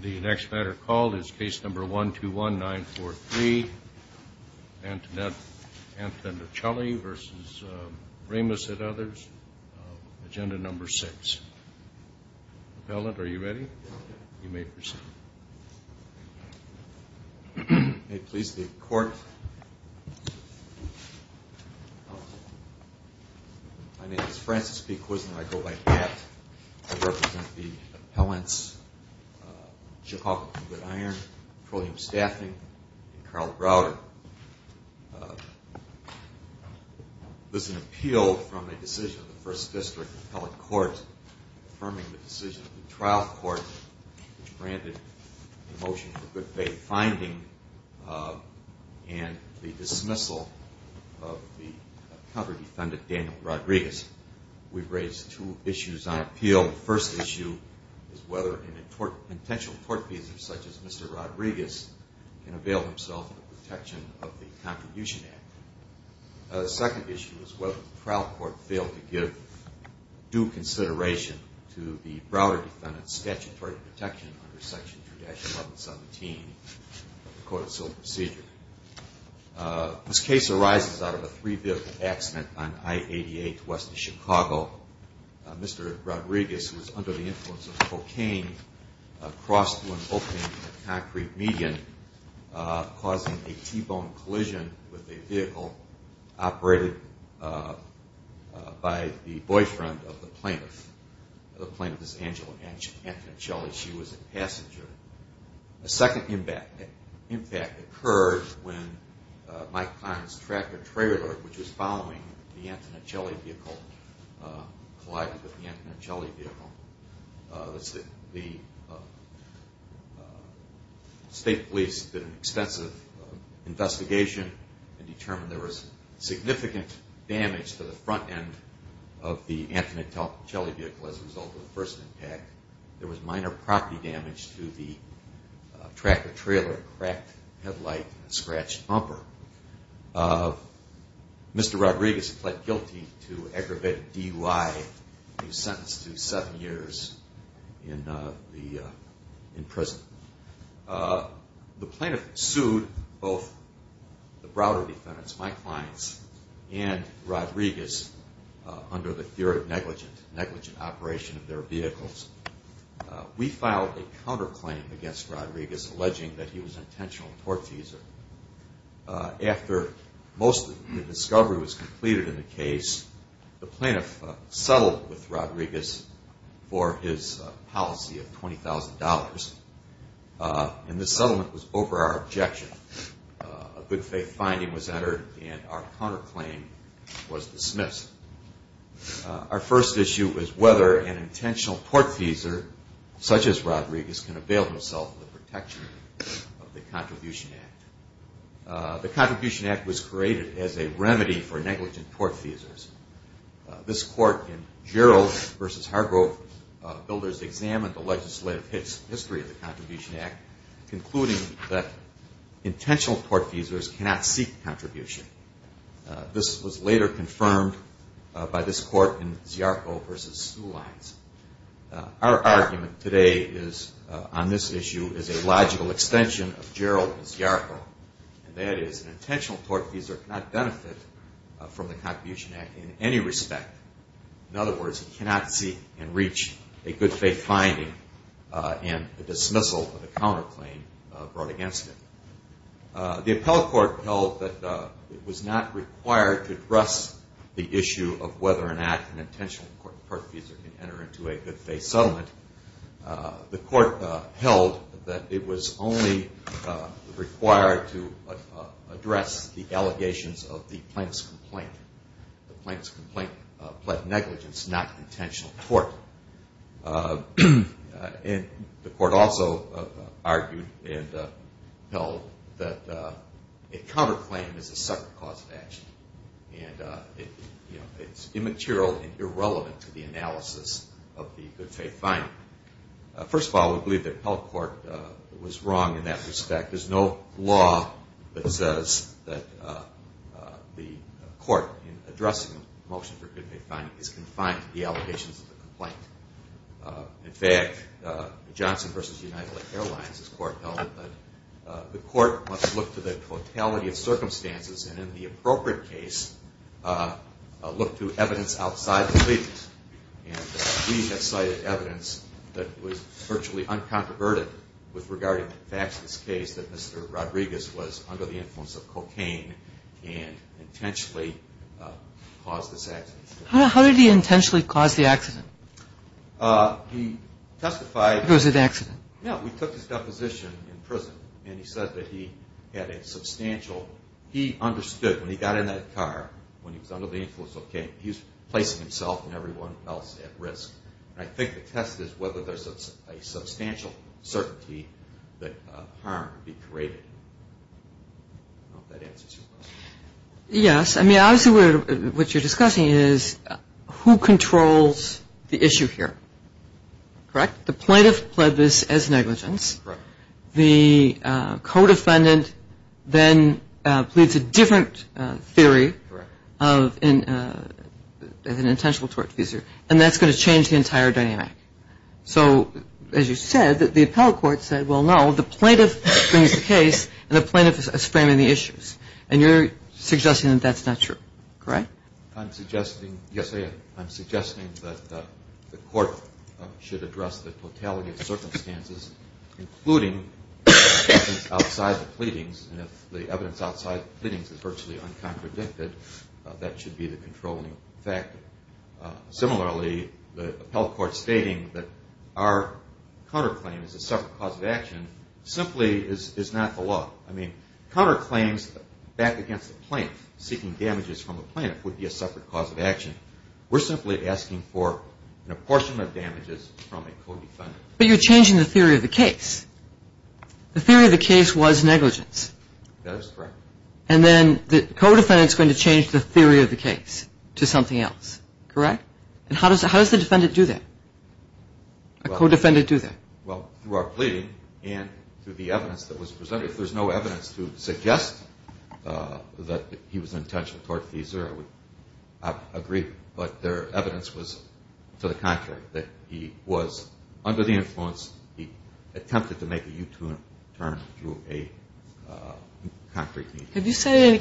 The next matter called is case number 121943, Antonella Antonellicelli v. Ramos and others, agenda number 6. Appellant, are you ready? You may proceed. My name is Francis P. Kuisner and I go by GAPT. I represent the appellants, Chicago Good Iron, Trillium Staffing, and Carl Browder. This is an appeal from a decision of the First District Appellate Court affirming the decision of the trial court which granted the motion for good faith finding and the dismissal of the counter defendant Daniel Rodriguez. We've raised two issues on appeal. The first issue is whether an intentional tort visa such as Mr. Rodriguez can avail himself of the protection of the Contribution Act. The second issue is whether the trial court failed to give due consideration to the Browder defendant's statutory protection under section 3-1117 of the Code of Civil Procedure. This case arises out of a three vehicle accident on I-88 west of Chicago. Mr. Rodriguez, who was under the influence of cocaine, crossed when opening a concrete median causing a T-bone collision with a vehicle operated by the boyfriend of the plaintiff. The plaintiff is Angela Antonellicelli. She was a passenger. A second impact occurred when Mike Kline's tractor trailer, which was following the Antonellicelli vehicle, collided with the Antonellicelli vehicle. The state police did an extensive investigation and determined there was significant damage to the front end of the Antonellicelli vehicle as a result of the first impact. There was minor property damage to the tractor trailer, cracked headlight, and scratched bumper. Mr. Rodriguez pled guilty to aggravated DUI and was sentenced to seven years in prison. The plaintiff sued both the Browder defendants, Mike Kline's, and Rodriguez under the fear of negligent operation of their vehicles. We filed a counterclaim against Rodriguez alleging that he was an intentional tort user. After most of the discovery was completed in the case, the plaintiff settled with Rodriguez for his policy of $20,000. And this settlement was over our objection. A good faith finding was entered and our counterclaim was dismissed. Our first issue was whether an intentional tort user, such as Rodriguez, can avail himself of the protection of the Contribution Act. The Contribution Act was created as a remedy for negligent tort users. This court in Gerald v. Hargrove builders examined the legislative history of the Contribution Act, concluding that intentional tort users cannot seek contribution. This was later confirmed by this court in Ziarko v. Sulines. Our argument today on this issue is a logical extension of Gerald v. Ziarko. That is, an intentional tort user cannot benefit from the Contribution Act in any respect. In other words, he cannot seek and reach a good faith finding and the dismissal of the counterclaim brought against him. The appellate court held that it was not required to address the issue of whether or not an intentional tort user can enter into a good faith settlement. The court held that it was only required to address the allegations of the plaintiff's complaint. The plaintiff's complaint pled negligence, not intentional tort. And the court also argued and held that a counterclaim is a separate cause of action. And it's immaterial and irrelevant to the analysis of the good faith finding. First of all, we believe the appellate court was wrong in that respect. There's no law that says that the court in addressing a motion for a good faith finding is confined to the allegations of the complaint. In fact, Johnson v. United Airlines' court held that the court must look to the totality of circumstances and in the appropriate case, look to evidence outside the pleadings. And we have cited evidence that was virtually uncontroverted with regard to the facts of this case that Mr. Rodriguez was under the influence of cocaine and intentionally caused this accident. How did he intentionally cause the accident? He testified... It was an accident. No, we took his deposition in prison and he said that he had a substantial... He understood when he got in that car, when he was under the influence of cocaine, he was placing himself and everyone else at risk. And I think the test is whether there's a substantial certainty that harm could be created. I don't know if that answers your question. Yes. I mean, obviously what you're discussing is who controls the issue here, correct? The plaintiff pled this as negligence. Correct. The co-defendant then pleads a different theory of an intentional tort officer, and that's going to change the entire dynamic. So, as you said, the appellate court said, well, no, the plaintiff brings the case and the plaintiff is framing the issues. And you're suggesting that that's not true, correct? I'm suggesting... Yes. including evidence outside the pleadings, and if the evidence outside the pleadings is virtually uncontradicted, that should be the controlling factor. Similarly, the appellate court stating that our counterclaim is a separate cause of action simply is not the law. I mean, counterclaims back against the plaintiff, we're simply asking for a portion of damages from a co-defendant. But you're changing the theory of the case. The theory of the case was negligence. That is correct. And then the co-defendant is going to change the theory of the case to something else, correct? And how does the defendant do that, a co-defendant do that? Well, through our pleading and through the evidence that was presented. If there's no evidence to suggest that he was intentional toward FISA, I would agree. But their evidence was to the contrary, that he was under the influence. He attempted to make a U-turn through a concrete means. Have you cited any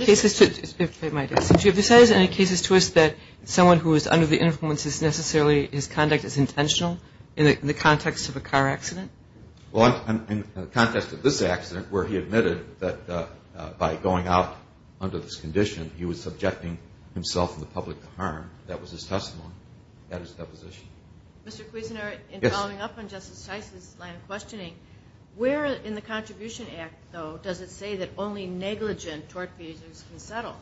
cases to us that someone who is under the influence is necessarily his conduct is intentional in the context of a car accident? Well, in the context of this accident where he admitted that by going out under this condition, he was subjecting himself and the public to harm, that was his testimony. That is his deposition. Mr. Kuisner, in following up on Justice Shice's line of questioning, where in the Contribution Act, though, does it say that only negligent toward FISA can settle?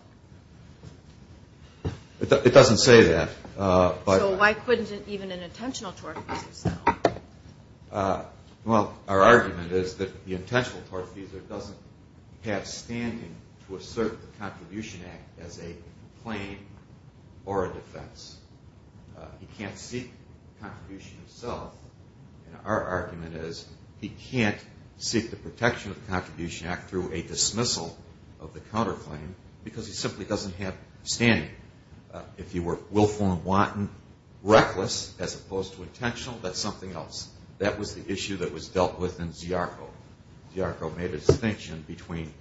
It doesn't say that. So why couldn't even an intentional toward FISA settle? Well, our argument is that the intentional toward FISA doesn't have standing to assert the Contribution Act as a claim or a defense. He can't seek contribution himself. And our argument is he can't seek the protection of the Contribution Act through a dismissal of the counterclaim because he simply doesn't have standing. If you were willful and wanton, reckless as opposed to intentional, that's something else. That was the issue that was dealt with in Ziarko. Ziarko made a distinction between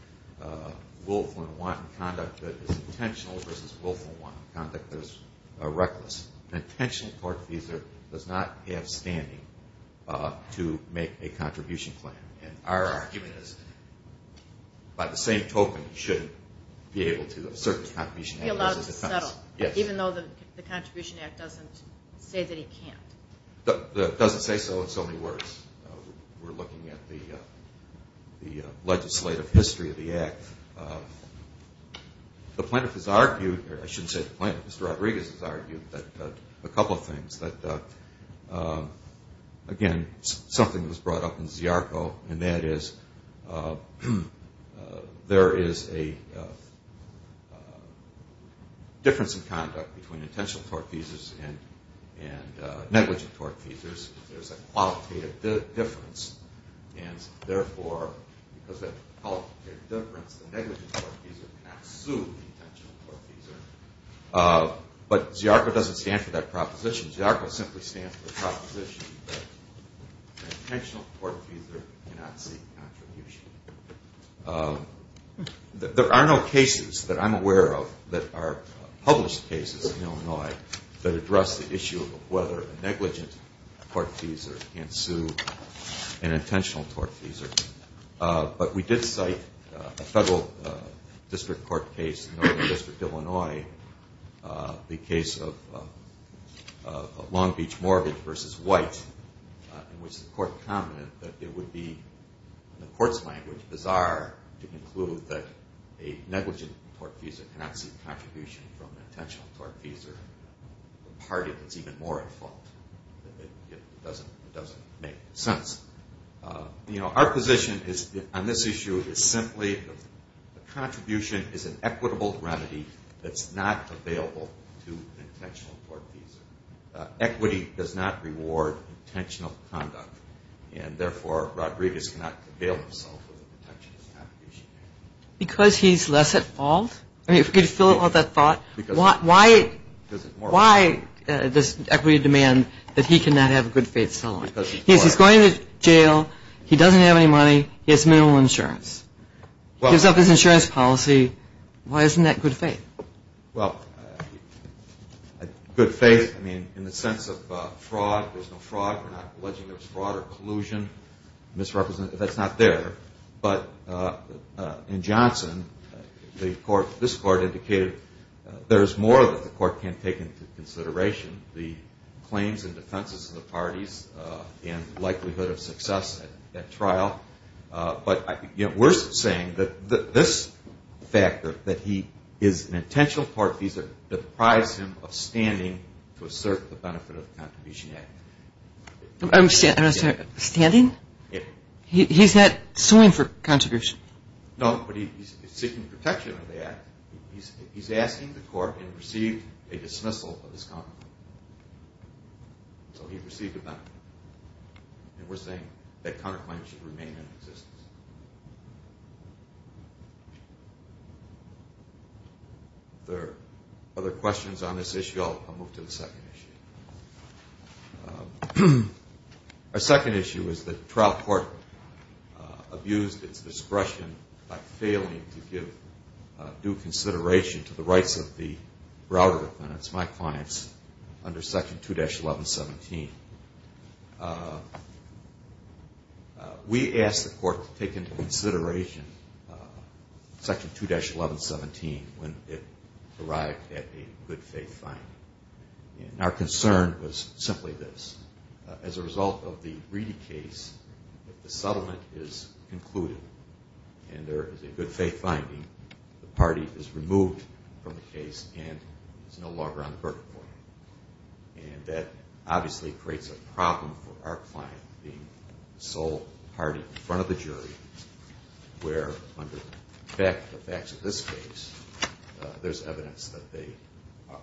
willful and wanton conduct that is intentional versus willful and wanton conduct that is reckless. An intentional toward FISA does not have standing to make a contribution claim. And our argument is by the same token, you shouldn't be able to assert the Contribution Act even though the Contribution Act doesn't say that he can't. It doesn't say so in so many words. We're looking at the legislative history of the Act. The plaintiff has argued, or I shouldn't say the plaintiff, Mr. Rodriguez has argued a couple of things. Again, something was brought up in Ziarko, and that is there is a difference in conduct between intentional toward FISA and negligent toward FISA. There's a qualitative difference, and therefore, because of the qualitative difference, the negligent toward FISA cannot sue the intentional toward FISA. But Ziarko doesn't stand for that proposition. Ziarko simply stands for the proposition that an intentional toward FISA cannot seek contribution. There are no cases that I'm aware of that are published cases in Illinois that address the issue of whether a negligent toward FISA can sue an intentional toward FISA. But we did cite a federal district court case in Northern District, Illinois, the case of Long Beach Mortgage v. White, in which the court commented that it would be, in the court's language, bizarre to conclude that a negligent toward FISA cannot seek contribution from an intentional toward FISA, a party that's even more at fault. It doesn't make sense. You know, our position on this issue is simply the contribution is an equitable remedy that's not available to an intentional toward FISA. Equity does not reward intentional conduct, and therefore, Rodriguez cannot avail himself of an intentional contribution. Because he's less at fault? I mean, if we could fill in all that thought. Why does equity demand that he cannot have a good-faith settlement? Yes, he's going to jail. He doesn't have any money. He has minimal insurance. He gives up his insurance policy. Why isn't that good faith? Well, good faith, I mean, in the sense of fraud. There's no fraud. We're not alleging there was fraud or collusion, misrepresentation. That's not there. But in Johnson, this court indicated there is more that the court can't take into consideration. The claims and defenses of the parties and likelihood of success at trial. But we're saying that this factor, that he is an intentional toward FISA, deprives him of standing to assert the benefit of the Contribution Act. Standing? He's not suing for contribution. No, but he's seeking protection of the act. He's asking the court and received a dismissal of his counterclaim. So he received a benefit. And we're saying that counterclaim should remain in existence. If there are other questions on this issue, I'll move to the second issue. Our second issue is that the trial court abused its discretion by failing to give due consideration to the rights of the Browder defendants, my clients, under Section 2-1117. We asked the court to take into consideration Section 2-1117 when it arrived at a good faith finding. And our concern was simply this. As a result of the Reedy case, if the settlement is concluded and there is a good faith finding, the party is removed from the case and is no longer on the court. And that obviously creates a problem for our client, the sole party in front of the jury, where under the facts of this case, there's evidence that they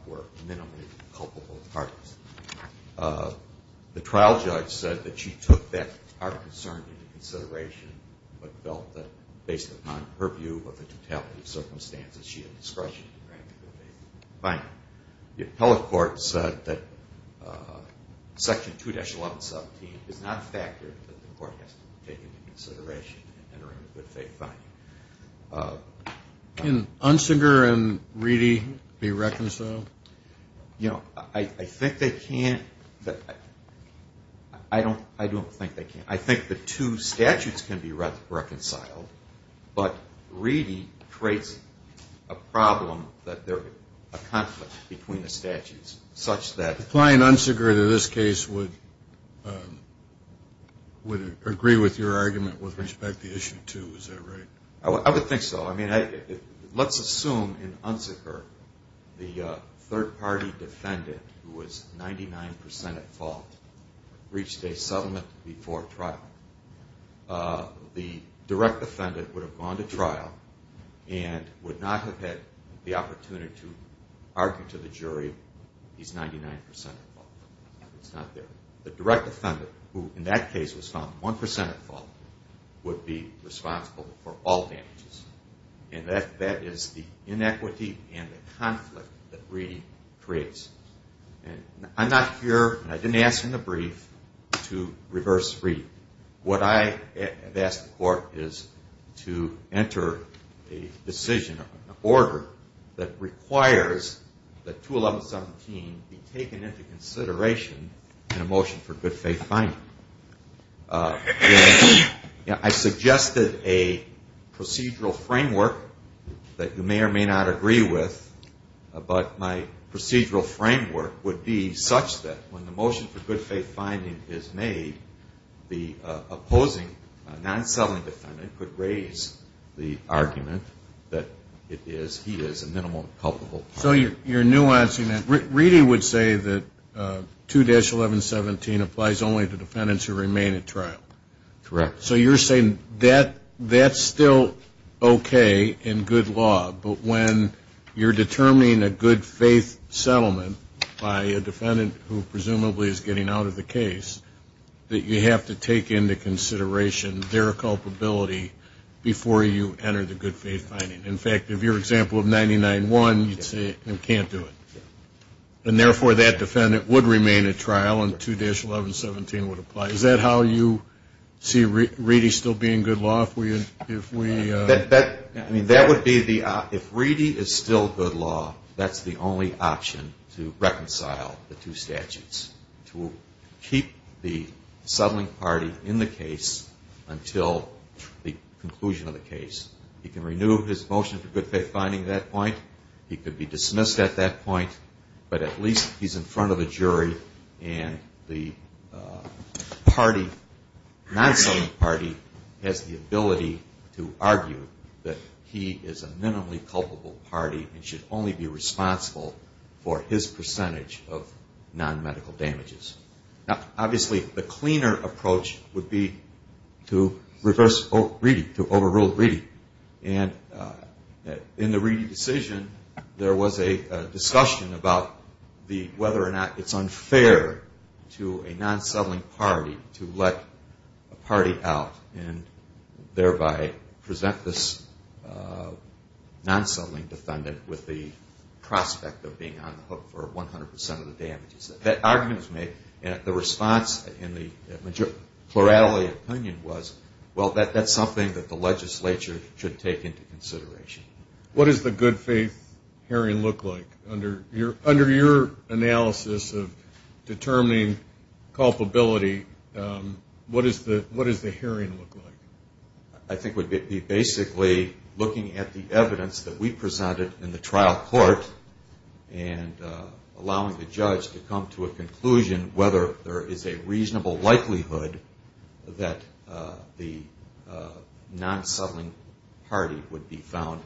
were minimally culpable parties. The trial judge said that she took that part of the concern into consideration but felt that based upon her view of the totality of circumstances, she had discretion to grant a good faith finding. The appellate court said that Section 2-1117 is not a factor that the court has to take into consideration in entering a good faith finding. Can Unseger and Reedy be reconciled? You know, I think they can't. I don't think they can. I think the two statutes can be reconciled, but Reedy creates a problem that there's a conflict between the statutes such that The client, Unseger, in this case would agree with your argument with respect to Issue 2, is that right? I would think so. I mean, let's assume in Unseger the third-party defendant who was 99 percent at fault reached a settlement before trial. The direct defendant would have gone to trial and would not have had the opportunity to argue to the jury he's 99 percent at fault. It's not there. The direct defendant, who in that case was found 1 percent at fault, would be responsible for all damages. And that is the inequity and the conflict that Reedy creates. I'm not here, and I didn't ask in the brief, to reverse Reedy. What I have asked the court is to enter a decision, that requires that 211.17 be taken into consideration in a motion for good-faith finding. I suggested a procedural framework that you may or may not agree with, but my procedural framework would be such that when the motion for good-faith finding is made, the opposing non-settling defendant could raise the argument that he is a minimal culpable. So you're nuancing that. Reedy would say that 2-1117 applies only to defendants who remain at trial. Correct. So you're saying that's still okay in good law, but when you're determining a good-faith settlement by a defendant who presumably is getting out of the case, that you have to take into consideration their culpability before you enter the good-faith finding. In fact, if you're example of 99-1, you'd say you can't do it. And therefore, that defendant would remain at trial and 2-1117 would apply. Is that how you see Reedy still be in good law? If Reedy is still good law, that's the only option to reconcile the two statutes, to keep the settling party in the case until the conclusion of the case. He can renew his motion for good-faith finding at that point. He could be dismissed at that point, but at least he's in front of a jury and the non-settling party has the ability to argue that he is a minimally culpable party and should only be responsible for his percentage of non-medical damages. Now, obviously, the cleaner approach would be to reverse Reedy, to overrule Reedy. And in the Reedy decision, there was a discussion about whether or not it's unfair to a non-settling party to let a party out and thereby present this non-settling defendant with the prospect of being on the hook for 100% of the damages. That argument was made, and the response in the plurality opinion was, well, that's something that the legislature should take into consideration. What does the good-faith hearing look like? Under your analysis of determining culpability, what does the hearing look like? I think it would be basically looking at the evidence that we presented in the trial court and allowing the judge to come to a conclusion whether there is a reasonable likelihood that the non-settling party would be found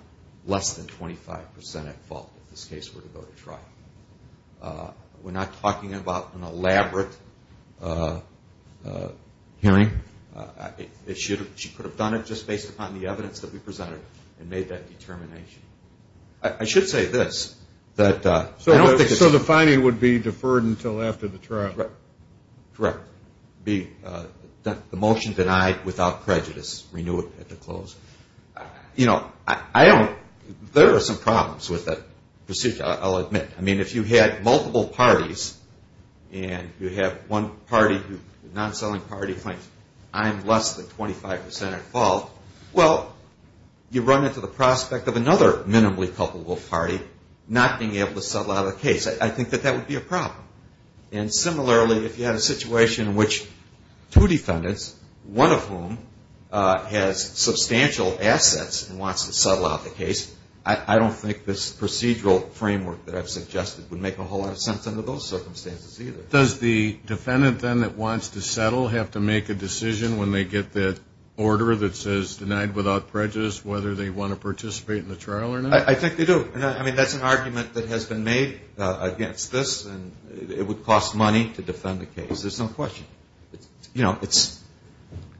less than 25% at fault if this case were to go to trial. We're not talking about an elaborate hearing. She could have done it just based upon the evidence that we presented and made that determination. I should say this. So the finding would be deferred until after the trial? Correct. The motion denied without prejudice. Renew it at the close. You know, there are some problems with that procedure, I'll admit. I mean, if you had multiple parties and you have one party, non-settling party, finds I'm less than 25% at fault, well, you run into the prospect of another minimally culpable party not being able to settle out of the case. I think that that would be a problem. And similarly, if you had a situation in which two defendants, one of whom has substantial assets and wants to settle out the case, I don't think this procedural framework that I've suggested would make a whole lot of sense under those circumstances either. Does the defendant then that wants to settle have to make a decision when they get that order that says denied without prejudice whether they want to participate in the trial or not? I think they do. I mean, that's an argument that has been made against this, and it would cost money to defend the case. There's no question. You know, that's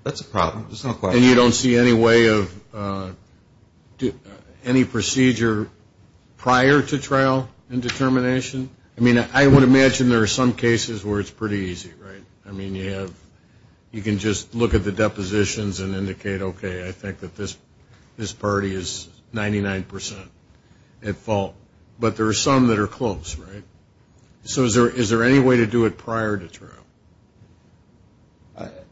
a problem. There's no question. And you don't see any way of any procedure prior to trial and determination? I mean, I would imagine there are some cases where it's pretty easy, right? I mean, you can just look at the depositions and indicate, okay, I think that this party is 99%. But there are some that are close, right? So is there any way to do it prior to trial?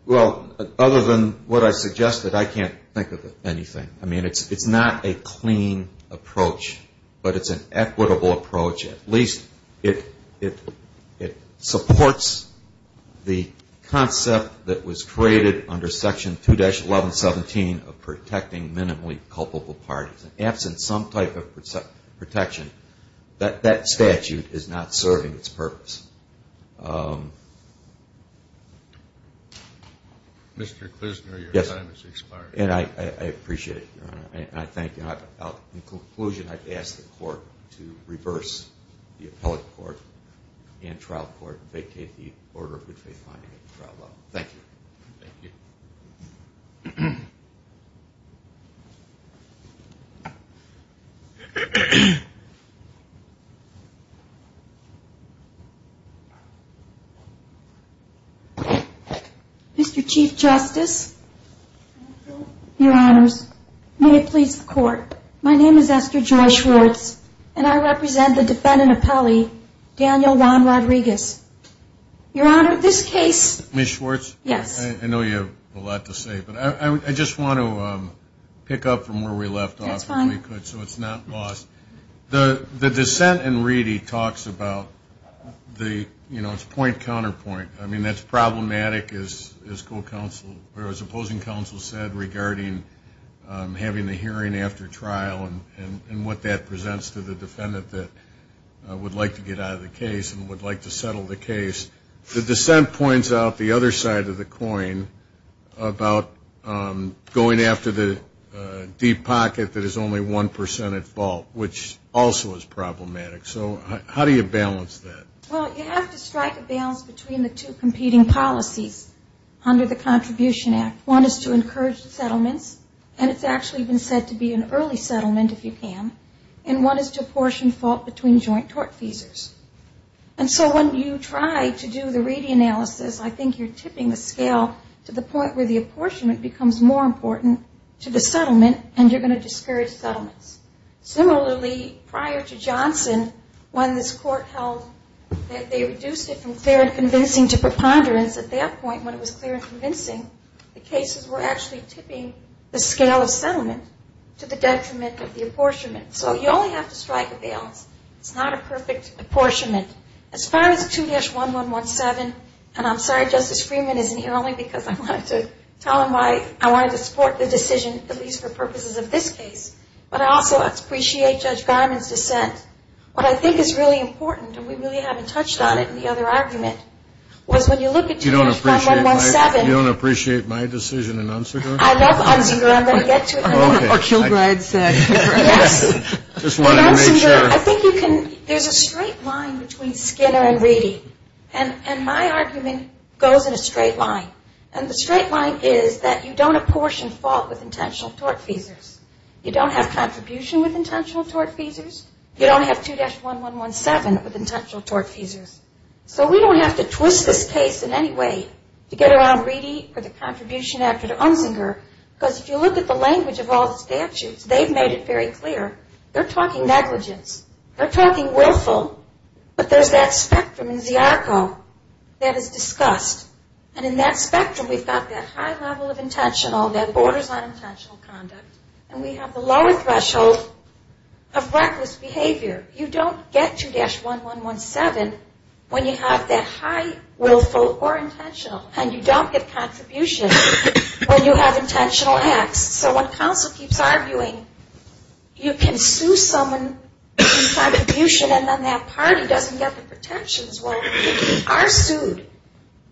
Well, other than what I suggested, I can't think of anything. I mean, it's not a clean approach, but it's an equitable approach. At least it supports the concept that was created under Section 2-1117 of protecting minimally culpable parties. Absent some type of protection, that statute is not serving its purpose. Mr. Klusner, your time has expired. And I appreciate it, Your Honor, and I thank you. In conclusion, I'd ask the Court to reverse the appellate court and trial court and vacate the order of good faith finding and trial law. Thank you. Thank you. Mr. Chief Justice. Your Honors, may it please the Court. My name is Esther Joy Schwartz, and I represent the defendant appellee, Daniel Juan Rodriguez. Your Honor, this case – Ms. Schwartz? Yes. I know you have a lot to say, but I just want to pick up from where we left off. That's fine. So it's not lost. The dissent in Reedy talks about the, you know, it's point-counterpoint. I mean, that's problematic, as opposing counsel said, regarding having the hearing after trial and what that presents to the defendant that would like to get out of the case and would like to settle the case. The dissent points out the other side of the coin about going after the deep pocket that is only 1% at fault, which also is problematic. So how do you balance that? Well, you have to strike a balance between the two competing policies under the Contribution Act. One is to encourage settlements, and it's actually been said to be an early settlement, if you can. And one is to apportion fault between joint tort feasors. And so when you try to do the Reedy analysis, I think you're tipping the scale to the point where the apportionment becomes more important to the settlement, and you're going to discourage settlements. Similarly, prior to Johnson, when this court held that they reduced it from clear and convincing to preponderance, at that point when it was clear and convincing, the cases were actually tipping the scale of settlement to the detriment of the apportionment. So you only have to strike a balance. It's not a perfect apportionment. As far as 2-1117, and I'm sorry Justice Freeman isn't here only because I wanted to tell him why I wanted to support the decision, at least for purposes of this case. But I also appreciate Judge Garmon's dissent. What I think is really important, and we really haven't touched on it in the other argument, was when you look at 2-1117. You don't appreciate my decision in Unzinger? I love Unzinger. I'm going to get to it. Or Kilbride said. Unzinger, I think you can, there's a straight line between Skinner and Reedy. And my argument goes in a straight line. And the straight line is that you don't apportion fault with intentional tortfeasors. You don't have contribution with intentional tortfeasors. You don't have 2-1117 with intentional tortfeasors. So we don't have to twist this case in any way to get around Reedy or the contribution after Unzinger. Because if you look at the language of all the statutes, they've made it very clear. They're talking negligence. They're talking willful. But there's that spectrum in Ziarko that is discussed. And in that spectrum, we've got that high level of intentional that borders on intentional conduct. And we have the lower threshold of reckless behavior. You don't get 2-1117 when you have that high willful or intentional. And you don't get contribution when you have intentional acts. So when counsel keeps arguing, you can sue someone in contribution and then that party doesn't get the protections. Well, you are sued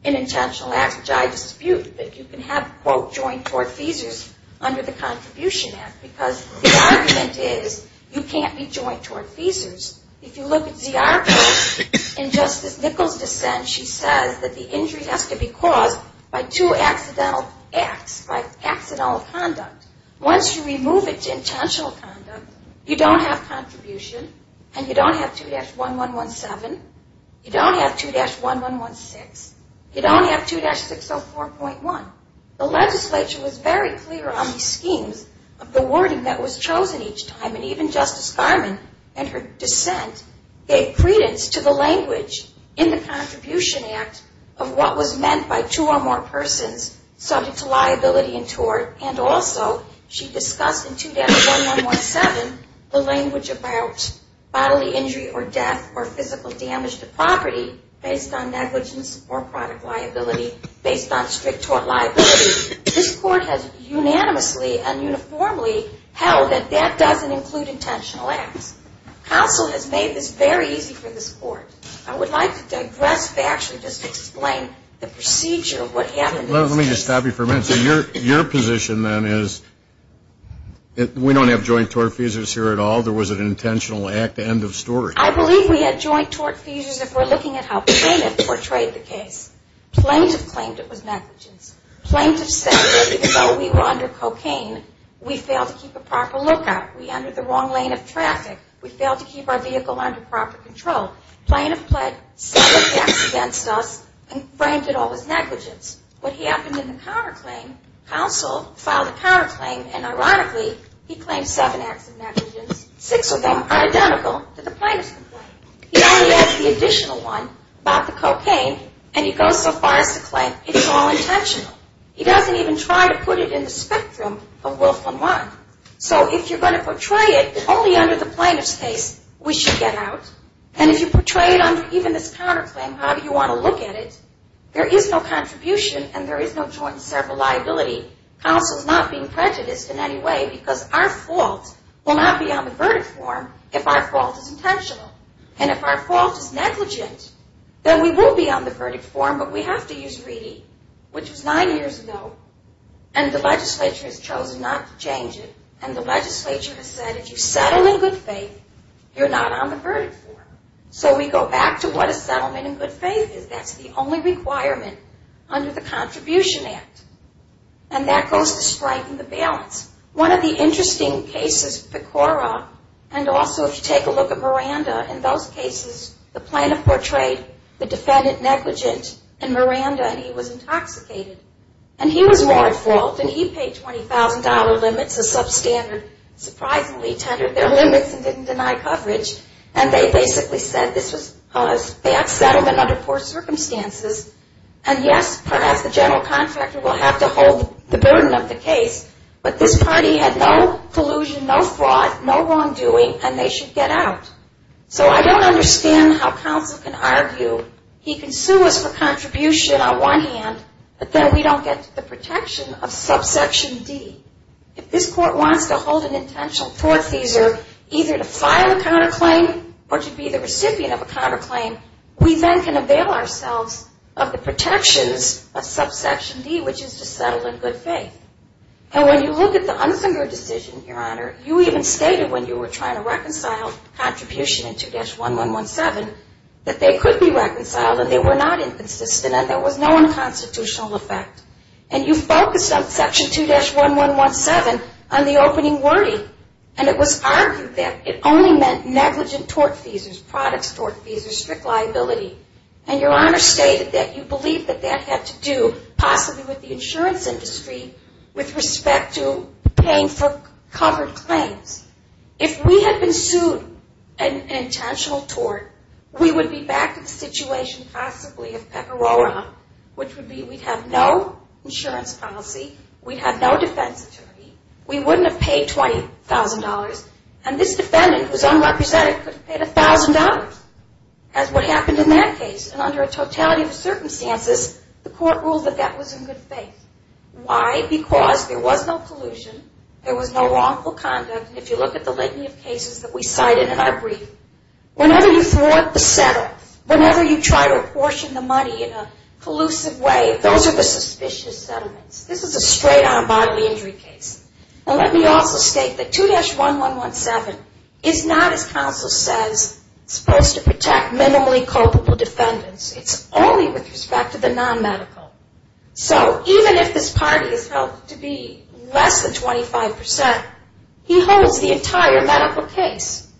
in intentional acts, which I dispute. But you can have, quote, joint tortfeasors under the contribution act. Because the argument is you can't be joint tortfeasors. If you look at Ziarko in Justice Nichols' dissent, she says that the injury has to be caused by two accidental acts, by accidental conduct. Once you remove it to intentional conduct, you don't have contribution and you don't have 2-1117. You don't have 2-1116. You don't have 2-604.1. The legislature was very clear on the schemes of the wording that was chosen each time. And even Justice Garmon in her dissent gave credence to the language in the contribution act of what was meant by two or more persons subject to liability and tort. And also she discussed in 2-1117 the language about bodily injury or death or physical damage to property based on negligence or product liability based on strict tort liability. This court has unanimously and uniformly held that that doesn't include intentional acts. Counsel has made this very easy for this court. I would like to digress factually just to explain the procedure of what happened in this case. Let me just stop you for a minute. So your position then is we don't have joint tortfeasors here at all. There was an intentional act, end of story. I believe we had joint tortfeasors if we're looking at how plaintiff portrayed the case. Plaintiff claimed it was negligence. Plaintiff said even though we were under cocaine, we failed to keep a proper lookout. We entered the wrong lane of traffic. We failed to keep our vehicle under proper control. Plaintiff pled seven acts against us and framed it all as negligence. What happened in the counterclaim, counsel filed a counterclaim and ironically he claimed seven acts of negligence. Six of them are identical to the plaintiff's complaint. He only adds the additional one about the cocaine and he goes so far as to claim it's all intentional. He doesn't even try to put it in the spectrum of Wilf and Watt. So if you're going to portray it only under the plaintiff's case, we should get out. And if you portray it under even this counterclaim, how do you want to look at it? There is no contribution and there is no joint and several liability. Counsel is not being prejudiced in any way because our fault will not be on the verdict form if our fault is intentional. And if our fault is negligent, then we will be on the verdict form, but we have to use Reedy, which was nine years ago. And the legislature has chosen not to change it. And the legislature has said if you settle in good faith, you're not on the verdict form. So we go back to what a settlement in good faith is. That's the only requirement under the Contribution Act. And that goes to strike the balance. One of the interesting cases, Pecora, and also if you take a look at Miranda, in those cases the plaintiff portrayed the defendant negligent in Miranda and he was intoxicated. And he was more at fault and he paid $20,000 limits, a substandard, surprisingly tendered their limits and didn't deny coverage. And they basically said this was a bad settlement under poor circumstances. And yes, perhaps the general contractor will have to hold the burden of the case, but this party had no collusion, no fraud, no wrongdoing, and they should get out. So I don't understand how counsel can argue he can sue us for contribution on one hand, but then we don't get the protection of subsection D. If this court wants to hold an intentional court seizure, either to file a counterclaim or to be the recipient of a counterclaim, we then can avail ourselves of the protections of subsection D, which is to settle in good faith. And when you look at the Unsinger decision, Your Honor, you even stated when you were trying to reconcile contribution in 2-1117 that they could be reconciled and they were not inconsistent and there was no unconstitutional effect. And you focused on section 2-1117 on the opening wording, and it was argued that it only meant negligent tort fees, products tort fees, or strict liability. And Your Honor stated that you believe that that had to do possibly with the insurance industry with respect to paying for covered claims. If we had been sued an intentional tort, we would be back to the situation possibly of Peperora, which would be we'd have no insurance policy, we'd have no defense attorney, we wouldn't have paid $20,000, and this defendant, who's unrepresented, could have paid $1,000 as what happened in that case. And under a totality of circumstances, the court ruled that that was in good faith. Why? Because there was no collusion, there was no wrongful conduct, and if you look at the litany of cases that we cited in our brief, whenever you thwart the settle, whenever you try to apportion the money in a collusive way, those are the suspicious settlements. This is a straight-on bodily injury case. Now let me also state that 2-1117 is not, as counsel says, supposed to protect minimally culpable defendants. It's only with respect to the non-medical. So even if this party is held to be less than 25%, he holds the entire medical case.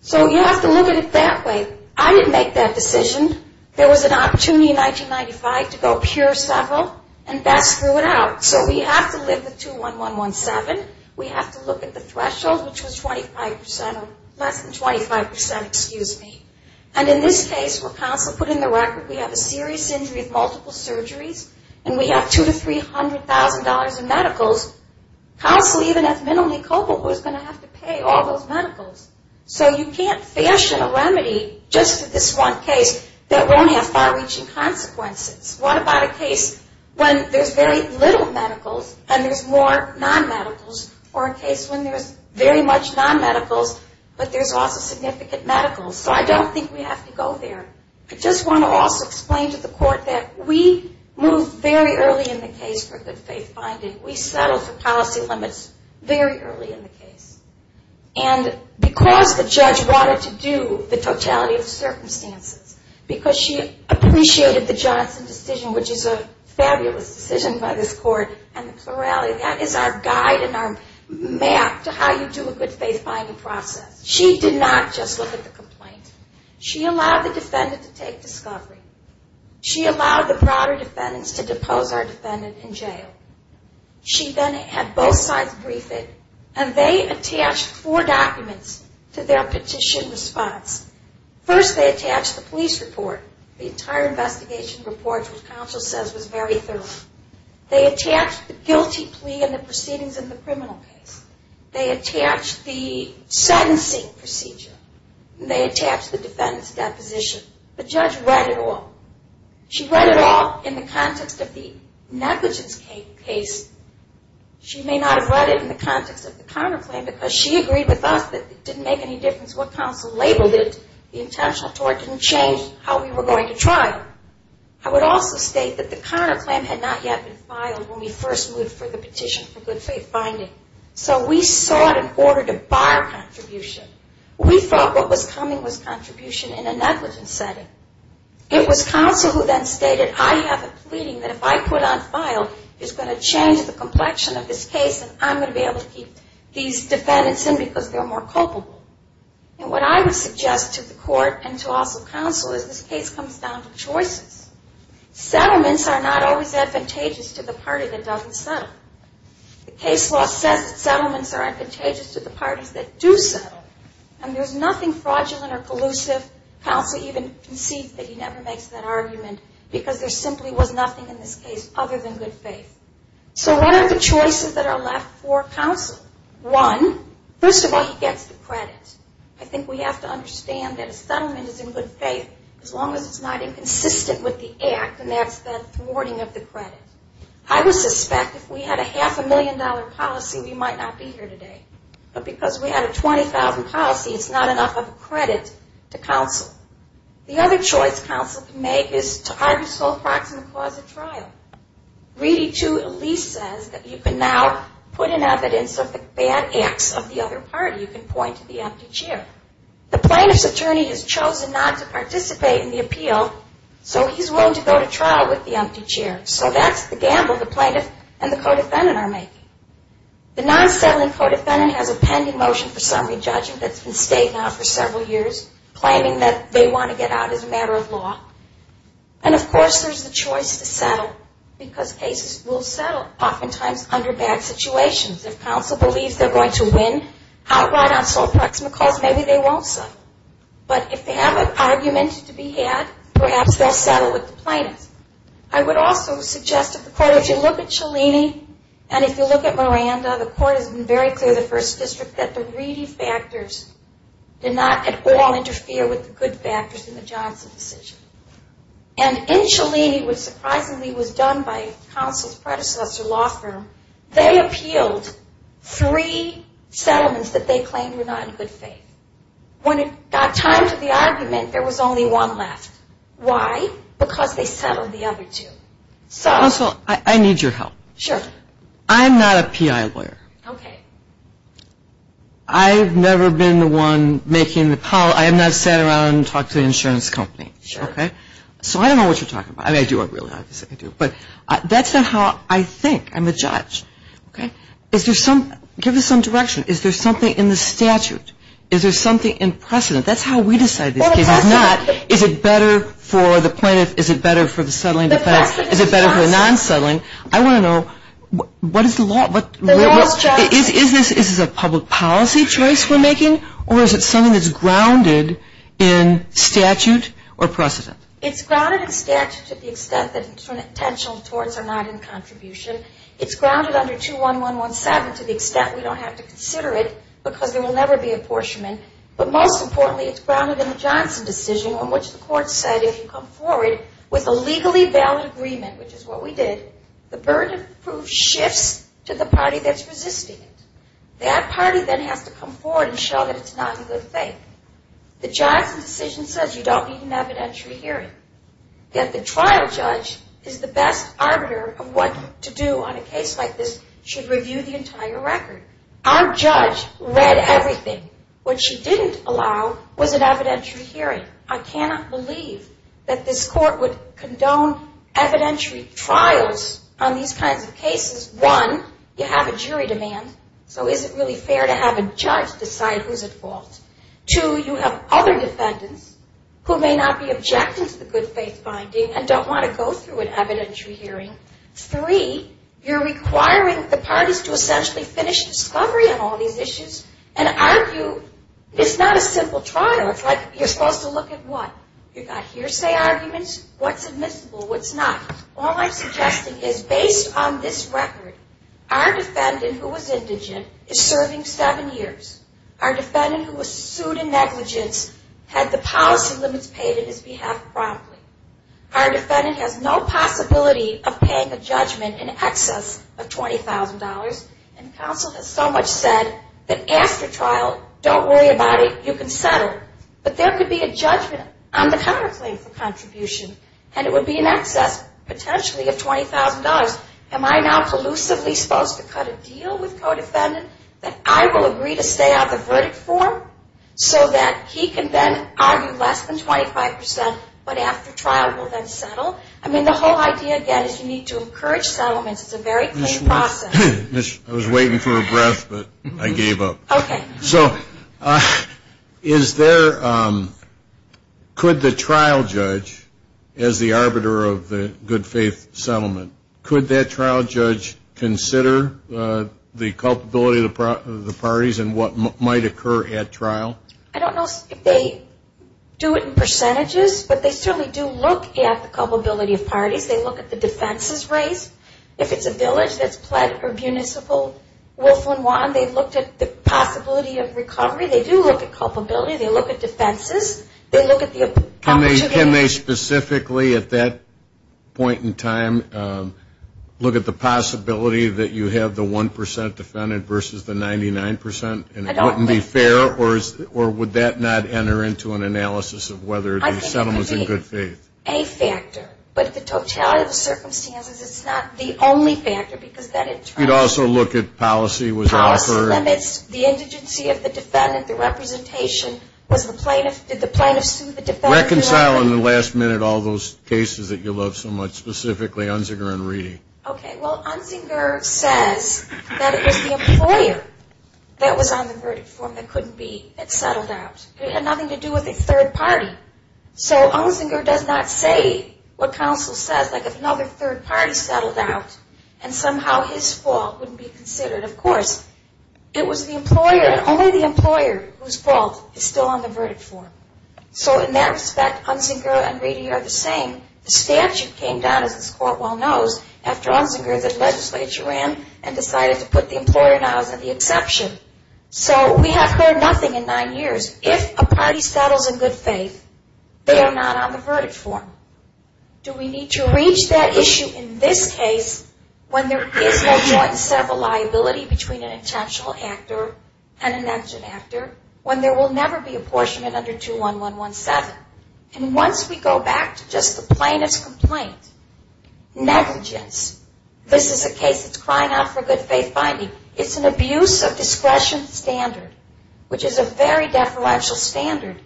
So you have to look at it that way. I didn't make that decision. There was an opportunity in 1995 to go pure settle, and Beth threw it out. So we have to live with 2-1117. We have to look at the threshold, which was 25% or less than 25%, excuse me. And in this case, where counsel put in the record we have a serious injury of multiple surgeries, and we have $200,000 to $300,000 in medicals, counsel, even if minimally culpable, is going to have to pay all those medicals. So you can't fashion a remedy just for this one case that won't have far-reaching consequences. What about a case when there's very little medicals and there's more non-medicals, or a case when there's very much non-medicals but there's also significant medicals? So I don't think we have to go there. I just want to also explain to the court that we moved very early in the case for good-faith finding. We settled for policy limits very early in the case. And because the judge wanted to do the totality of the circumstances, because she appreciated the Johnson decision, which is a fabulous decision by this court, and the plurality, that is our guide and our map to how you do a good-faith finding process. She did not just look at the complaint. She allowed the defendant to take discovery. She allowed the broader defendants to depose our defendant in jail. She then had both sides brief it, and they attached four documents to their petition response. First, they attached the police report. The entire investigation report, which counsel says was very thorough. They attached the guilty plea and the proceedings in the criminal case. They attached the sentencing procedure. They attached the defendant's deposition. The judge read it all. She read it all in the context of the negligence case. She may not have read it in the context of the counterclaim because she agreed with us that it didn't make any difference what counsel labeled it. The intentional tort didn't change how we were going to trial. I would also state that the counterclaim had not yet been filed when we first moved for the petition for good-faith finding. So we sought an order to bar contribution. We thought what was coming was contribution in a negligence setting. It was counsel who then stated, I have a pleading that if I put on file is going to change the complexion of this case and I'm going to be able to keep these defendants in because they're more culpable. And what I would suggest to the court and to also counsel is this case comes down to choices. Settlements are not always advantageous to the party that doesn't settle. The case law says that settlements are advantageous to the parties that do settle, and there's nothing fraudulent or collusive. Counsel even concedes that he never makes that argument because there simply was nothing in this case other than good faith. So what are the choices that are left for counsel? One, first of all, he gets the credit. I think we have to understand that a settlement is in good faith as long as it's not inconsistent with the act, and that's the thwarting of the credit. I would suspect if we had a half a million dollar policy, we might not be here today. But because we had a $20,000 policy, it's not enough of a credit to counsel. The other choice counsel can make is to argue sole proxy in the cause of trial. Reedy II at least says that you can now put in evidence of the bad acts of the other party. You can point to the empty chair. The plaintiff's attorney has chosen not to participate in the appeal, so he's willing to go to trial with the empty chair. So that's the gamble the plaintiff and the co-defendant are making. The non-settling co-defendant has a pending motion for summary judgment that's been stayed now for several years, claiming that they want to get out as a matter of law. And, of course, there's the choice to settle because cases will settle oftentimes under bad situations. If counsel believes they're going to win outright on sole proxy in the cause, maybe they won't settle. But if they have an argument to be had, perhaps they'll settle with the plaintiff. I would also suggest that if you look at Cellini and if you look at Miranda, the court has been very clear in the First District that the Reedy factors did not at all interfere with the good factors in the Johnson decision. And in Cellini, which surprisingly was done by counsel's predecessor law firm, they appealed three settlements that they claimed were not in good faith. When it got time for the argument, there was only one left. Why? Because they settled the other two. Counsel, I need your help. Sure. I'm not a PI lawyer. Okay. I've never been the one making the call. I have not sat around and talked to the insurance company. Sure. Okay. So I don't know what you're talking about. I mean, I do, obviously. I do. But that's not how I think. I'm a judge. Okay. Give me some direction. Is there something in the statute? Is there something in precedent? That's how we decide these cases, not is it better for the plaintiff? Is it better for the settling defense? Is it better for the non-settling? I want to know what is the law? Is this a public policy choice we're making, or is it something that's grounded in statute or precedent? It's grounded in statute to the extent that intentional torts are not in contribution. It's grounded under 21117 to the extent we don't have to consider it because there will never be apportionment. But most importantly, it's grounded in the Johnson decision on which the court said, if you come forward with a legally valid agreement, which is what we did, the burden of proof shifts to the party that's resisting it. That party then has to come forward and show that it's not a good thing. The Johnson decision says you don't need an evidentiary hearing, yet the trial judge is the best arbiter of what to do on a case like this, should review the entire record. Our judge read everything. What she didn't allow was an evidentiary hearing. I cannot believe that this court would condone evidentiary trials on these kinds of cases. One, you have a jury demand, so is it really fair to have a judge decide who's at fault? Two, you have other defendants who may not be objecting to the good faith finding and don't want to go through an evidentiary hearing. Three, you're requiring the parties to essentially finish discovery on all these issues and argue it's not a simple trial. It's like you're supposed to look at what? You've got hearsay arguments, what's admissible, what's not. All I'm suggesting is based on this record, our defendant who was indigent is serving seven years. Our defendant who was sued in negligence had the policy limits paid in his behalf promptly. Our defendant has no possibility of paying a judgment in excess of $20,000, and counsel has so much said that after trial, don't worry about it, you can settle. But there could be a judgment on the counterclaim for contribution, and it would be in excess potentially of $20,000. Am I now collusively supposed to cut a deal with a co-defendant that I will agree to stay out the verdict for so that he can then argue less than 25% but after trial will then settle? I mean, the whole idea, again, is you need to encourage settlements. It's a very clean process. I was waiting for a breath, but I gave up. Okay. So is there, could the trial judge, as the arbiter of the good faith settlement, could that trial judge consider the culpability of the parties and what might occur at trial? I don't know if they do it in percentages, but they certainly do look at the culpability of parties. They look at the defense's race. If it's a village that's pled or municipal, Wolf and Juan, they looked at the possibility of recovery. They do look at culpability. They look at defenses. They look at the opportunity. Can they specifically at that point in time look at the possibility that you have the 1% defendant versus the 99%? I don't think so. And it wouldn't be fair, or would that not enter into an analysis of whether the settlement was in good faith? I think it could be a factor, but the totality of the circumstances, it's not the only factor because that in turn. You'd also look at policy was offered. Policy limits, the indigency of the defendant, the representation. Did the plaintiff sue the defendant? Reconcile in the last minute all those cases that you love so much, specifically Unzinger and Reedy. Okay. Well, Unzinger says that it was the employer that was on the verdict form that couldn't be. It settled out. It had nothing to do with a third party. So Unzinger does not say what counsel says. It's like if another third party settled out and somehow his fault wouldn't be considered. Of course, it was the employer and only the employer whose fault is still on the verdict form. So in that respect, Unzinger and Reedy are the same. The statute came down, as this court well knows, after Unzinger that legislature ran and decided to put the employer now as the exception. So we have heard nothing in nine years. If a party settles in good faith, they are not on the verdict form. Do we need to reach that issue in this case when there is no joint set of liability between an intentional actor and an action actor, when there will never be apportionment under 21117? And once we go back to just the plaintiff's complaint, negligence, this is a case that's crying out for good faith finding. It's an abuse of discretion standard, which is a very deferential standard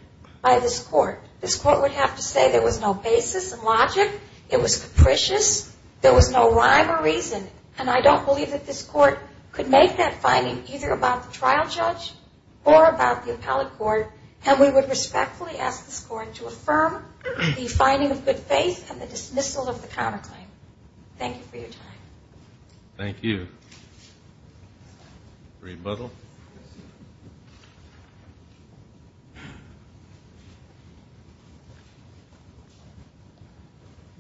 by this court. This court would have to say there was no basis in logic, it was capricious, there was no rhyme or reason, and I don't believe that this court could make that finding either about the trial judge or about the appellate court, and we would respectfully ask this court to affirm the finding of good faith and the dismissal of the counterclaim. Thank you for your time. Thank you. Rebuttal.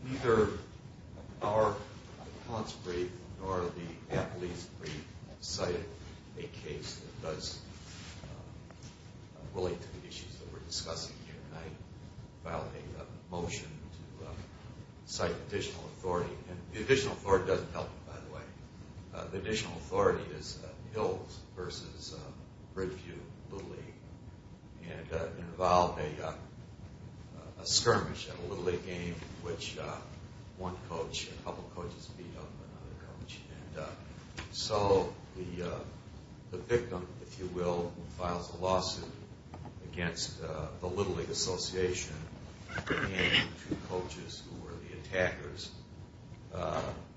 Neither our accounts brief nor the appellate's brief cited a case that does relate to the issues that we're discussing here tonight. I filed a motion to cite additional authority, and the additional authority doesn't help, by the way. The additional authority is Hills versus Bridgeview Little League, and involved a skirmish at a Little League game in which one coach and a couple coaches beat up another coach. And so the victim, if you will, files a lawsuit against the Little League Association and two coaches who were the attackers.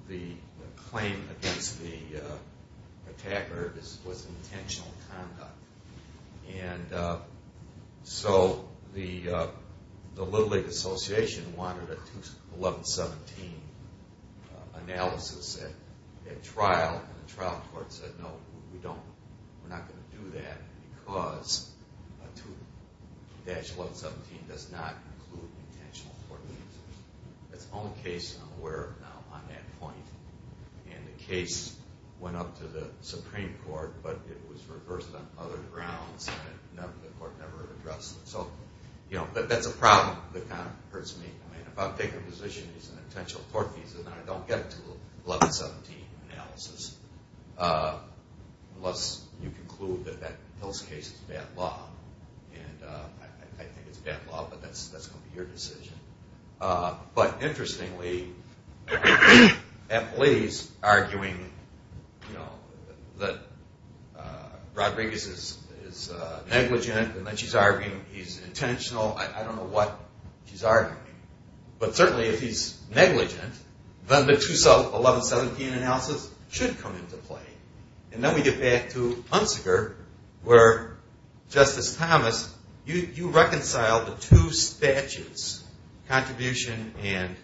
The claim against the attacker was intentional conduct. And so the Little League Association wanted a 2-1117 analysis at trial, and the trial court said, no, we're not going to do that because a 2-1117 does not include intentional conduct. That's the only case I'm aware of now on that point. And the case went up to the Supreme Court, but it was reversed on other grounds, and the court never addressed it. So that's a problem that kind of hurts me. If I'm taking a position that it's an intentional court case and I don't get a 2-1117 analysis, unless you conclude that that Hills case is bad law. And I think it's bad law, but that's going to be your decision. But interestingly, Emily's arguing that Rodriguez is negligent, and that she's arguing he's intentional. I don't know what she's arguing. But certainly if he's negligent, then the 2-1117 analysis should come into play. And then we get back to Hunziker, where Justice Thomas, you reconcile the two statutes, contribution and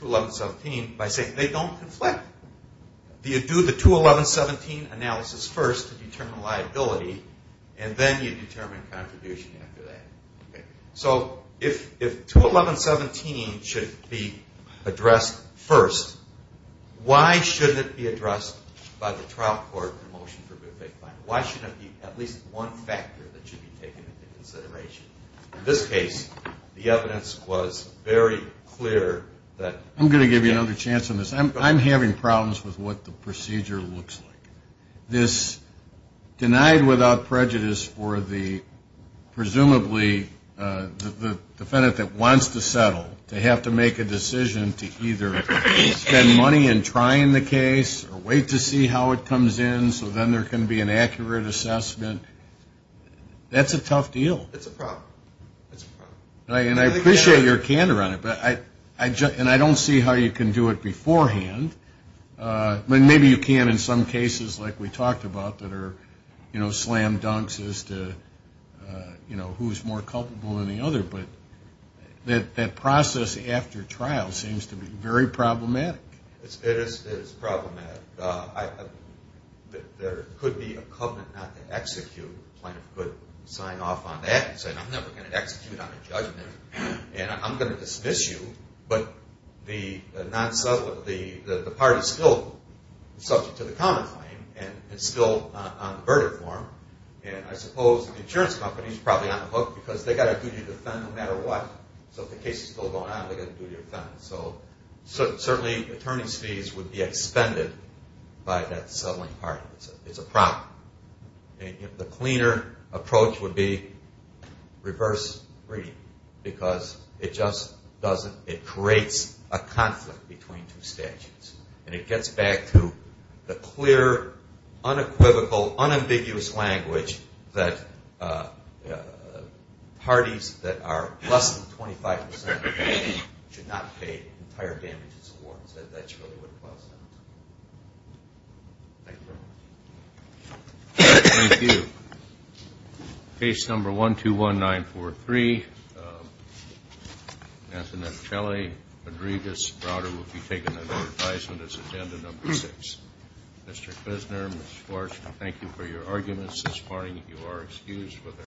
2-1117, by saying they don't conflict. You do the 2-1117 analysis first to determine liability, and then you determine contribution after that. So if 2-1117 should be addressed first, why shouldn't it be addressed by the trial court in the motion for good faith finding? Why shouldn't it be at least one factor that should be taken into consideration? In this case, the evidence was very clear that... There are problems with what the procedure looks like. This denied without prejudice for the, presumably, the defendant that wants to settle, to have to make a decision to either spend money in trying the case or wait to see how it comes in, so then there can be an accurate assessment, that's a tough deal. And I appreciate your candor on it, and I don't see how you can do it beforehand. Maybe you can in some cases, like we talked about, that are slam dunks as to who's more culpable than the other, but that process after trial seems to be very problematic. It is problematic. There could be a covenant not to execute. The plaintiff could sign off on that and say, I'm never going to execute on a judgment, and I'm going to dismiss you, but the part is still subject to the common claim, and it's still on the verdict form, and I suppose the insurance company is probably on the hook because they've got a duty to defend no matter what. So if the case is still going on, they've got a duty to defend. So certainly attorney's fees would be expended by that settling part. It's a problem. The cleaner approach would be reverse breeding because it creates a conflict between two statutes, and it gets back to the clear, unequivocal, unambiguous language that parties that are less than 25% should not pay entire damages awards. That's really what it was. Thank you. Thank you. Case number 121943, Anthony F. Shelley, Rodriguez, Browder, will be taken under advisement as attendant number six. Mr. Krisner, Ms. Schwartz, thank you for your arguments this morning. You are excused for the rest of the day.